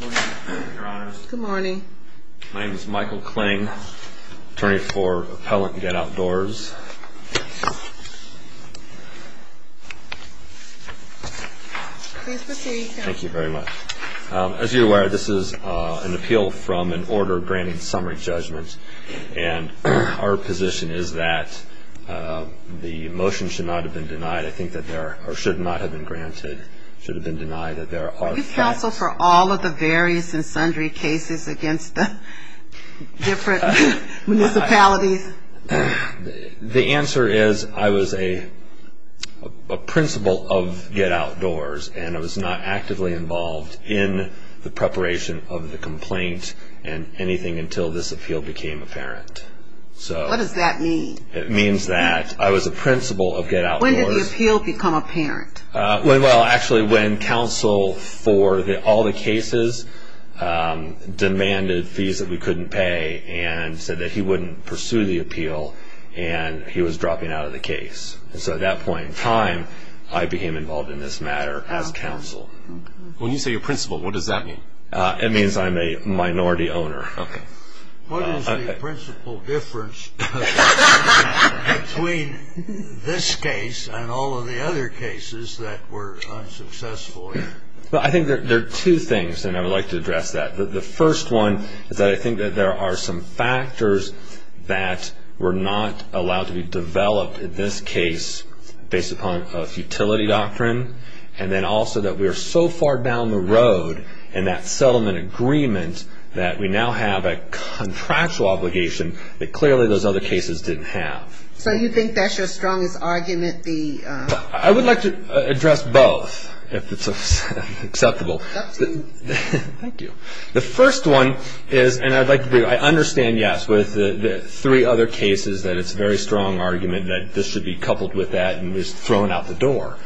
Good morning, Your Honor. Good morning. My name is Michael Kling, attorney for Appellant Get Outdoors. Please proceed, Your Honor. Thank you very much. As you are aware, this is an appeal from an order granting summary judgment, and our position is that the motion should not have been denied, I think that there, or should not have been granted, should have been denied. Are you counsel for all of the various and sundry cases against the different municipalities? The answer is I was a principal of Get Outdoors, and I was not actively involved in the preparation of the complaint, and anything until this appeal became apparent. What does that mean? It means that I was a principal of Get Outdoors. When did the appeal become apparent? Well, actually, when counsel for all the cases demanded fees that we couldn't pay, and said that he wouldn't pursue the appeal, and he was dropping out of the case. And so at that point in time, I became involved in this matter as counsel. When you say a principal, what does that mean? It means I'm a minority owner. What is the principal difference between this case and all of the other cases that were unsuccessful? Well, I think there are two things, and I would like to address that. The first one is that I think that there are some factors that were not allowed to be developed in this case based upon a futility doctrine, and then also that we are so far down the road in that settlement agreement that we now have a contractual obligation that clearly those other cases didn't have. So you think that's your strongest argument? I would like to address both, if it's acceptable. Thank you. The first one is, and I'd like to be, I understand, yes, with the three other cases that it's a very strong argument that this should be coupled with that and is thrown out the door.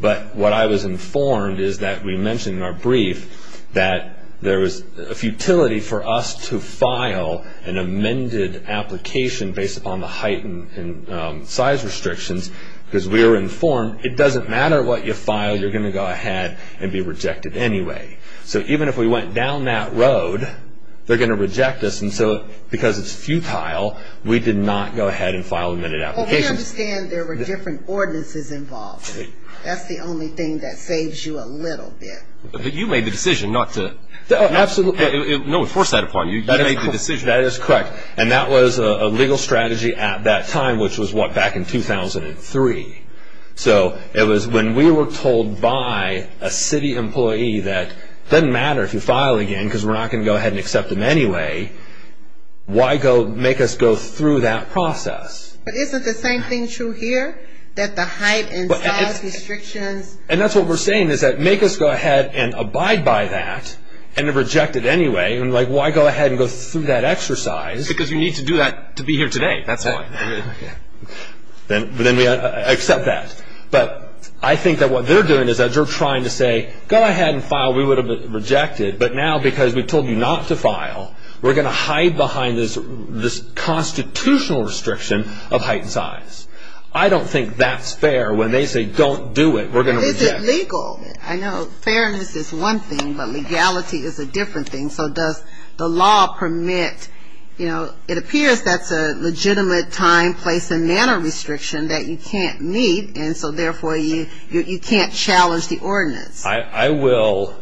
But what I was informed is that we mentioned in our brief that there was a futility for us to file an amended application based upon the height and size restrictions, because we were informed it doesn't matter what you file, you're going to go ahead and be rejected anyway. So even if we went down that road, they're going to reject us, and so because it's futile, we did not go ahead and file amended applications. But we understand there were different ordinances involved. That's the only thing that saves you a little bit. But you made the decision not to, no one forced that upon you, you made the decision. That is correct, and that was a legal strategy at that time, which was back in 2003. So it was when we were told by a city employee that it doesn't matter if you file again, because we're not going to go ahead and accept them anyway, why make us go through that process? But isn't the same thing true here, that the height and size restrictions? And that's what we're saying, make us go ahead and abide by that, and reject it anyway, why go ahead and go through that exercise? Because you need to do that to be here today, that's why. But I think that what they're doing is that you're trying to say, go ahead and file, we would have rejected, but now because we told you not to file, we're going to hide behind this constitutional restriction of height and size. I don't think that's fair, when they say don't do it, we're going to reject it. But is it legal? I know fairness is one thing, but legality is a different thing. So does the law permit, it appears that's a legitimate time, place, and manner restriction that you can't meet, and so therefore you can't challenge the ordinance. I will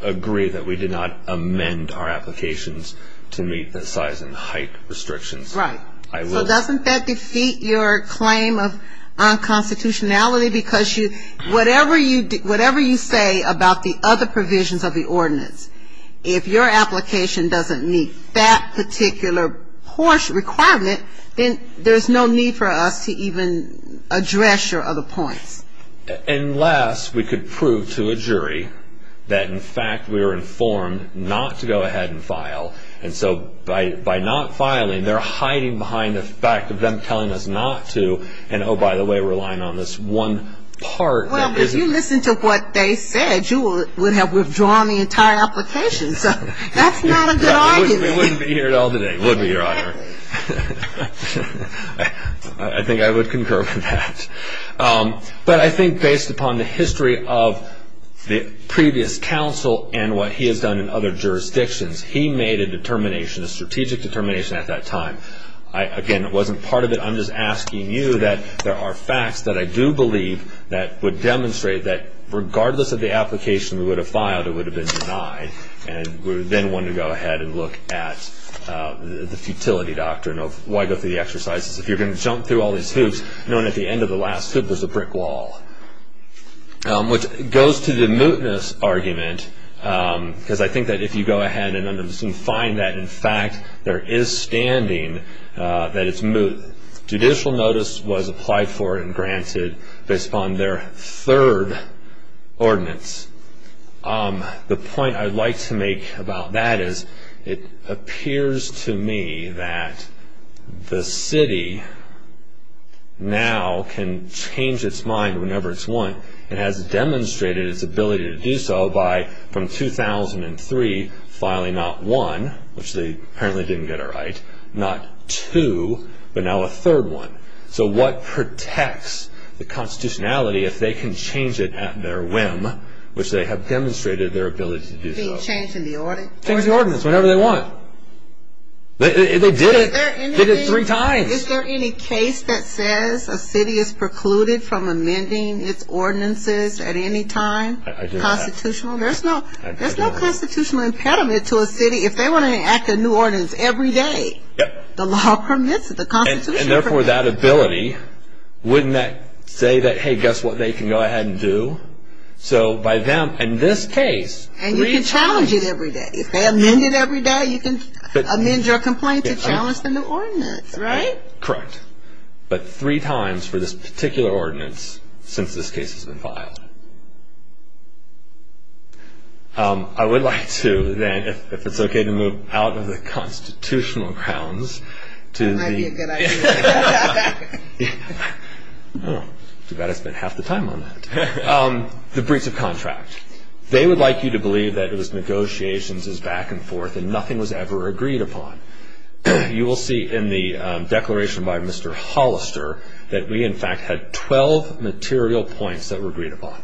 agree that we did not amend our applications to meet the size and height restrictions. Right. So doesn't that defeat your claim of unconstitutionality, because whatever you say about the other provisions of the ordinance, if your application doesn't meet that particular horse requirement, then there's no need for us to even address your other points. And last, we could prove to a jury that in fact we were informed not to go ahead and file, and so by not filing, their height and size restriction was not met. So we're hiding behind the fact of them telling us not to, and oh, by the way, relying on this one part. Well, if you listened to what they said, you would have withdrawn the entire application, so that's not a good argument. We wouldn't be here at all today, it would be your honor. I think I would concur with that. But I think based upon the history of the previous counsel and what he has done in other jurisdictions, he made a determination, a strategic determination at that time, again, it wasn't part of it, I'm just asking you that there are facts that I do believe that would demonstrate that regardless of the application we would have filed, it would have been denied. And we would then want to go ahead and look at the futility doctrine of why go through the exercises. If you're going to jump through all these hoops, knowing at the end of the last hoop there's a brick wall. Which goes to the mootness argument, because I think that if you go ahead and find that in fact there is standing, that judicial notice was applied for and granted based upon their third ordinance, the point I'd like to make about that is it appears to me that the city now can change its mind whenever it's won. It has demonstrated its ability to do so by, from 2003, filing not one, which they apparently didn't get it right, not two, but now a third one. So what protects the constitutionality if they can change it at their whim, which they have demonstrated their ability to do so. Being changed in the ordinance? Changed in the ordinance, whenever they want. They did it three times. Is there any case that says a city is precluded from amending its ordinances at any time? Constitutional? There's no constitutional impediment to a city. If they want to enact a new ordinance every day, the law permits it, the constitution permits it. And therefore that ability, wouldn't that say that, hey, guess what they can go ahead and do? So by them, in this case, three times. And you can challenge it every day. If they amend it every day, you can amend your complaint to challenge the new ordinance, right? Correct. But three times for this particular ordinance since this case has been filed. I would like to then, if it's okay to move out of the constitutional grounds, That might be a good idea. Too bad I spent half the time on that. The breach of contract. They would like you to believe that it was negotiations, it was back and forth, and nothing was ever agreed upon. You will see in the declaration by Mr. Hollister that we in fact had 12 material points that were agreed upon.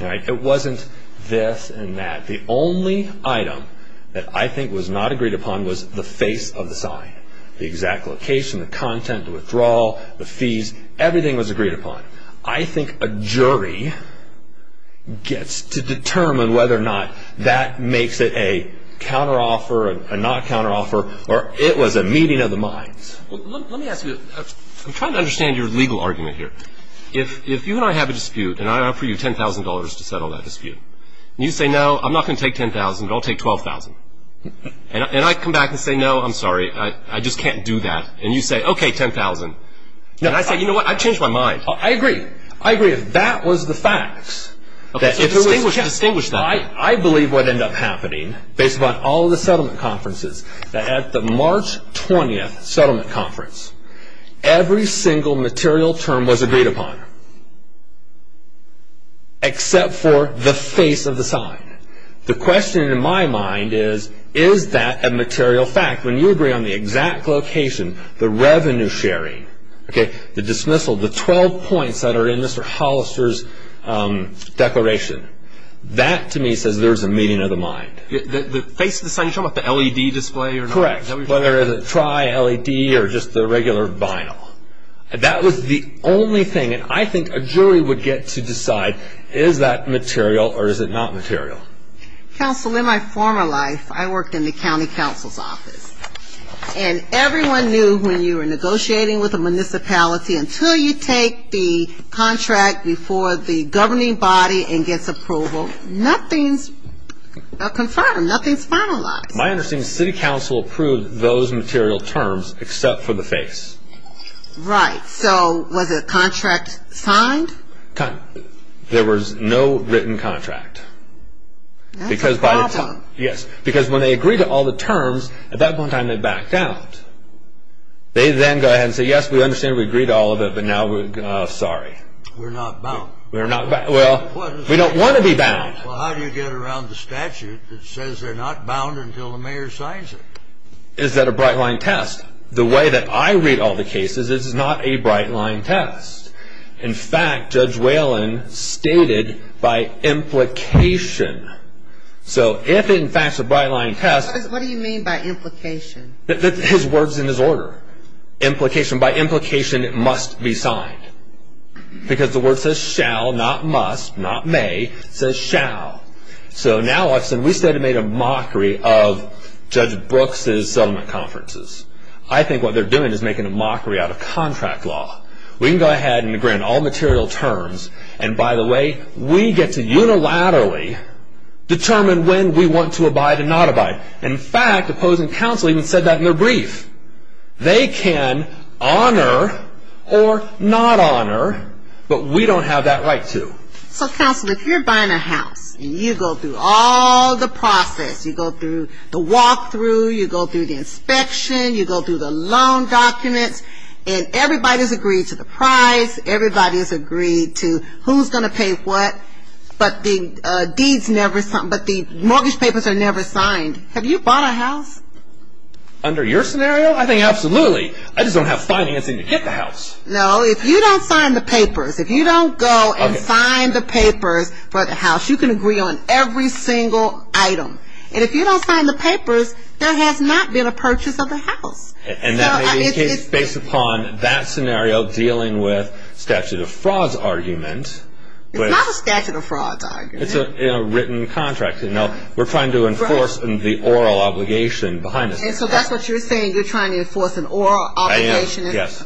It wasn't this and that. The only item that I think was not agreed upon was the face of the sign. The exact location, the content, the withdrawal, the fees, everything was agreed upon. I think a jury gets to determine whether or not that makes it a counteroffer, a not counteroffer, or it was a meeting of the minds. Let me ask you, I'm trying to understand your legal argument here. If you and I have a dispute and I offer you $10,000 to settle that dispute, and you say, No, I'm not going to take $10,000, but I'll take $12,000. And I come back and say, No, I'm sorry, I just can't do that. And you say, Okay, $10,000. And I say, You know what, I've changed my mind. I agree. I agree. That was the facts. Distinguish that. I believe what ended up happening, based upon all the settlement conferences, that at the March 20th settlement conference, every single material term was agreed upon, except for the face of the sign. The question in my mind is, Is that a material fact? When you agree on the exact location, the revenue sharing, the dismissal, the 12 points that are in Mr. Hollister's declaration, that to me says there's a meeting of the mind. The face of the sign, you're talking about the LED display? Correct, whether it's a tri-LED or just the regular vinyl. That was the only thing. And I think a jury would get to decide, Is that material or is it not material? Counsel, in my former life, I worked in the county counsel's office. And everyone knew when you were negotiating with a municipality, until you take the contract before the governing body and gets approval, nothing's confirmed, nothing's finalized. My understanding is city council approved those material terms, except for the face. Right, so was a contract signed? There was no written contract. That's a problem. Yes, because when they agreed to all the terms, at that point in time they backed out. They then go ahead and say, Yes, we understand, we agree to all of it, but now we're sorry. We're not bound. Well, we don't want to be bound. Well, how do you get around the statute that says they're not bound until the mayor signs it? Is that a bright-line test? The way that I read all the cases, this is not a bright-line test. In fact, Judge Whalen stated by implication. So if in fact it's a bright-line test... What do you mean by implication? His words and his order. Implication. By implication, it must be signed. Because the word says shall, not must, not may. It says shall. So now we said we made a mockery of Judge Brooks' settlement conferences. I think what they're doing is making a mockery out of contract law. We can go ahead and agree on all material terms, and by the way, we get to unilaterally determine when we want to abide and not abide. In fact, opposing counsel even said that in their brief. They can honor or not honor, but we don't have that right to. So, counsel, if you're buying a house and you go through all the process, you go through the walk-through, you go through the inspection, you go through the loan documents, and everybody's agreed to the price, everybody's agreed to who's going to pay what, but the mortgage papers are never signed. Have you bought a house? Under your scenario? I think absolutely. I just don't have financing to get the house. No, if you don't sign the papers, if you don't go and sign the papers for the house, you can agree on every single item. And if you don't sign the papers, there has not been a purchase of the house. And that may be based upon that scenario dealing with statute of fraud's argument. It's not a statute of fraud's argument. It's a written contract. We're trying to enforce the oral obligation behind it. And so that's what you're saying? You're trying to enforce an oral obligation? I am, yes.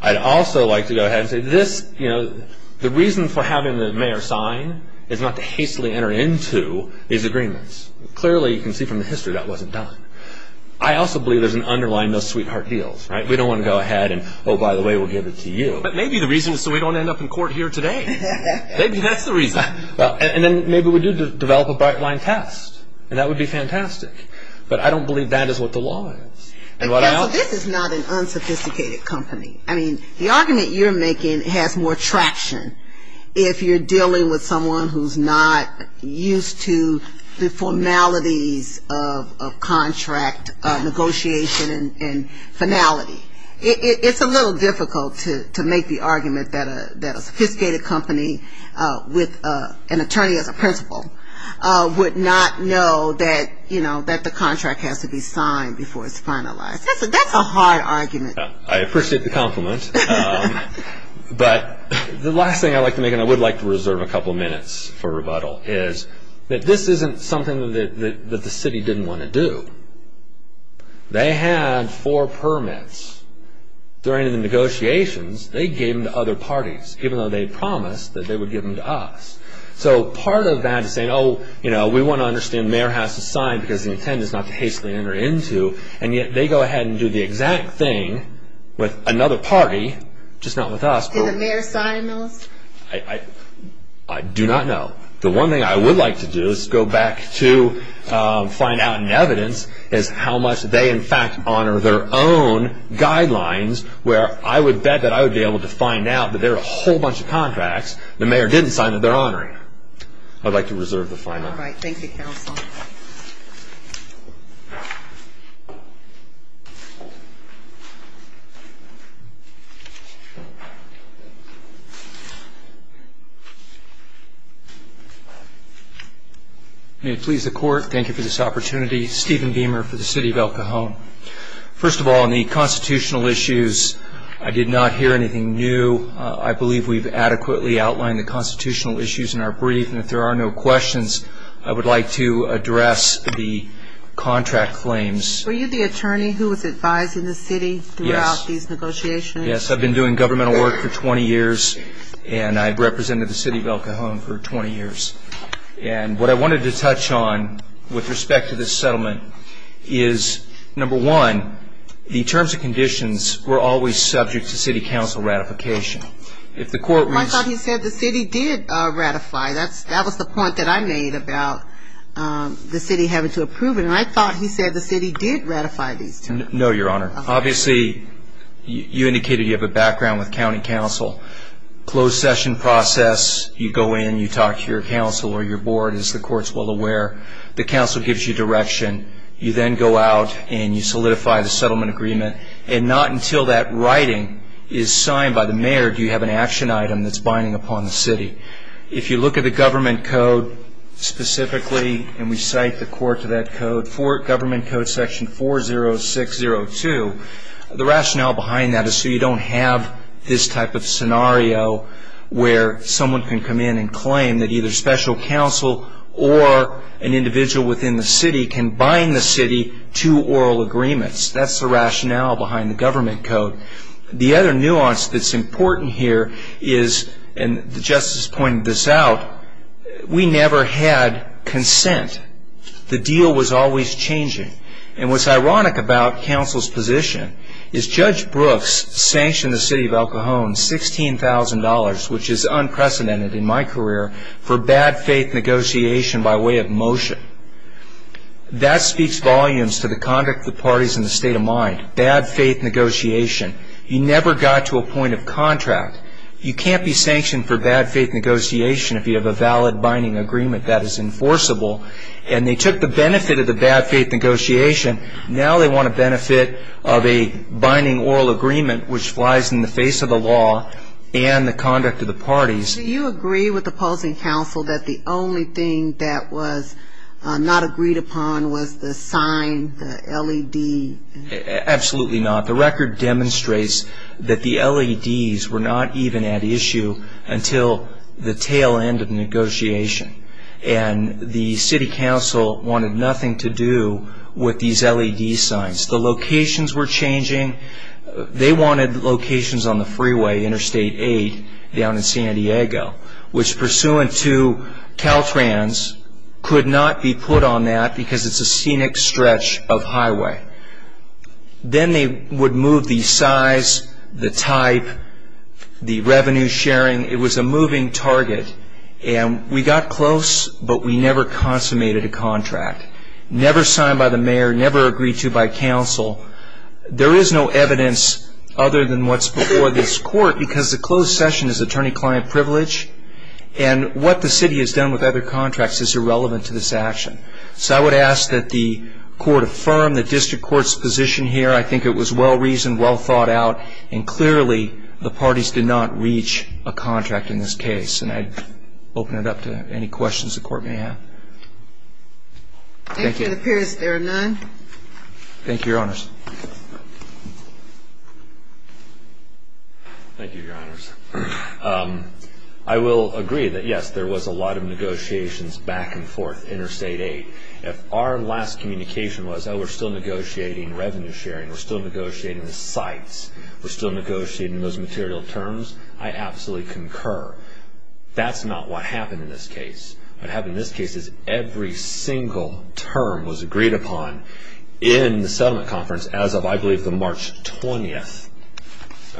I'd also like to go ahead and say this, you know, the reason for having the mayor sign is not to hastily enter into these agreements. Clearly, you can see from the history that wasn't done. I also believe there's an underlying no sweetheart deals, right? We don't want to go ahead and, oh, by the way, we'll give it to you. But maybe the reason is so we don't end up in court here today. Maybe that's the reason. And then maybe we do develop a bright line test, and that would be fantastic. But I don't believe that is what the law is. Counsel, this is not an unsophisticated company. I mean, the argument you're making has more traction if you're dealing with someone who's not used to the formalities of contract negotiation and finality. It's a little difficult to make the argument that a sophisticated company with an attorney as a principal would not know that, you know, that the contract has to be signed before it's finalized. That's a hard argument. I appreciate the compliment. But the last thing I'd like to make, and I would like to reserve a couple minutes for rebuttal, is that this isn't something that the city didn't want to do. They had four permits. During the negotiations, they gave them to other parties, even though they promised that they would give them to us. So part of that is saying, oh, you know, we want to understand the mayor has to sign because the intent is not to hastily enter into. And yet they go ahead and do the exact thing with another party, just not with us. Did the mayor sign those? I do not know. The one thing I would like to do is go back to find out in evidence is how much they, in fact, honor their own guidelines, where I would bet that I would be able to find out that there are a whole bunch of contracts the mayor didn't sign that they're honoring. I'd like to reserve the final. All right. Thank you, counsel. May it please the court, thank you for this opportunity. Stephen Beamer for the city of El Cajon. First of all, on the constitutional issues, I did not hear anything new. I believe we've adequately outlined the constitutional issues in our brief, and if there are no questions, I would like to address the contract claims. Were you the attorney who was advising the city throughout these negotiations? Yes. Yes, I've been doing governmental work for 20 years, and I've represented the city of El Cajon for 20 years. And what I wanted to touch on with respect to this settlement is, number one, the terms and conditions were always subject to city council ratification. I thought he said the city did ratify. That was the point that I made about the city having to approve it, and I thought he said the city did ratify these terms. No, Your Honor. Obviously, you indicated you have a background with county council. Closed session process, you go in, you talk to your council or your board, as the court's well aware. The council gives you direction. You then go out and you solidify the settlement agreement, and not until that writing is signed by the mayor do you have an action item that's binding upon the city. If you look at the government code specifically, and we cite the court to that code for government code section 40602, the rationale behind that is so you don't have this type of scenario where someone can come in and claim that either special counsel or an individual within the city can bind the city to oral agreements. That's the rationale behind the government code. The other nuance that's important here is, and the Justice pointed this out, we never had consent. The deal was always changing. What's ironic about counsel's position is Judge Brooks sanctioned the city of El Cajon $16,000, which is unprecedented in my career, for bad faith negotiation by way of motion. That speaks volumes to the conduct of the parties in the state of mind, bad faith negotiation. You never got to a point of contract. You can't be sanctioned for bad faith negotiation if you have a valid binding agreement that is enforceable. And they took the benefit of the bad faith negotiation. Now they want a benefit of a binding oral agreement, which flies in the face of the law and the conduct of the parties. Do you agree with the opposing counsel that the only thing that was not agreed upon was the sign, the LED? Absolutely not. The record demonstrates that the LEDs were not even at issue until the tail end of negotiation. And the city council wanted nothing to do with these LED signs. The locations were changing. They wanted locations on the freeway, Interstate 8, down in San Diego, which pursuant to Caltrans could not be put on that because it's a scenic stretch of highway. Then they would move the size, the type, the revenue sharing. It was a moving target. And we got close, but we never consummated a contract, never signed by the mayor, never agreed to by counsel. There is no evidence other than what's before this court because the closed session is attorney-client privilege. And what the city has done with other contracts is irrelevant to this action. So I would ask that the court affirm the district court's position here. I think it was well-reasoned, well-thought-out, and clearly the parties did not reach a contract in this case. And I'd open it up to any questions the court may have. Thank you. It appears there are none. Thank you, Your Honors. Thank you, Your Honors. I will agree that, yes, there was a lot of negotiations back and forth, interstate aid. If our last communication was, oh, we're still negotiating revenue sharing, we're still negotiating the sites, we're still negotiating those material terms, I absolutely concur. That's not what happened in this case. What happened in this case is every single term was agreed upon in the settlement conference as of, I believe, the March 20th.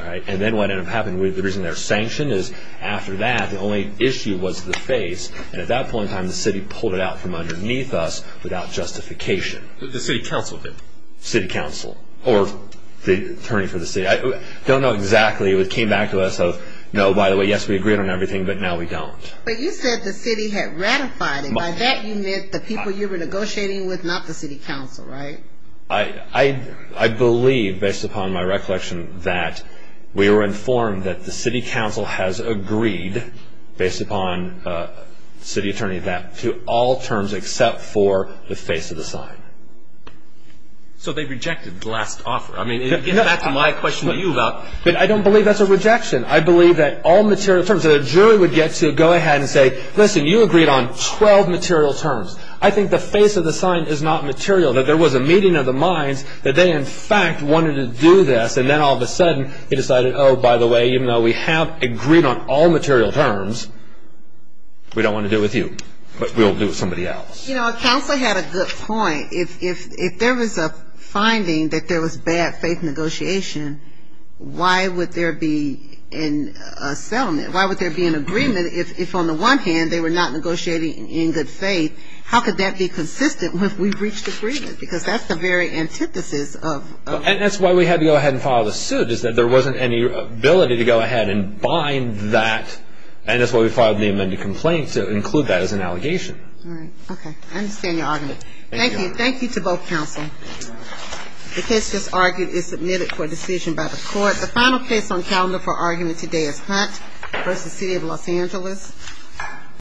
And then what ended up happening, the reason there's sanction is after that, the only issue was the face. And at that point in time, the city pulled it out from underneath us without justification. The city council did. City council or the attorney for the city. I don't know exactly. It came back to us of, no, by the way, yes, we agreed on everything, but now we don't. But you said the city had ratified it. By that you meant the people you were negotiating with, not the city council, right? I believe, based upon my recollection, that we were informed that the city council has agreed, based upon the city attorney, that to all terms except for the face of the sign. So they rejected the last offer. I mean, getting back to my question to you about. I don't believe that's a rejection. I believe that all material terms, that a jury would get to go ahead and say, listen, you agreed on 12 material terms. that there was a meeting of the minds, that they, in fact, wanted to do this, and then all of a sudden they decided, oh, by the way, even though we have agreed on all material terms, we don't want to do it with you. But we'll do it with somebody else. You know, counsel had a good point. If there was a finding that there was bad faith negotiation, why would there be a settlement? Why would there be an agreement if, on the one hand, they were not negotiating in good faith? How could that be consistent if we reached agreement? Because that's the very antithesis of... And that's why we had to go ahead and file the suit, is that there wasn't any ability to go ahead and bind that. And that's why we filed the amended complaint, to include that as an allegation. All right. Okay. I understand your argument. Thank you. Thank you to both counsel. The case just argued is submitted for decision by the court. The final case on calendar for argument today is Hunt v. City of Los Angeles.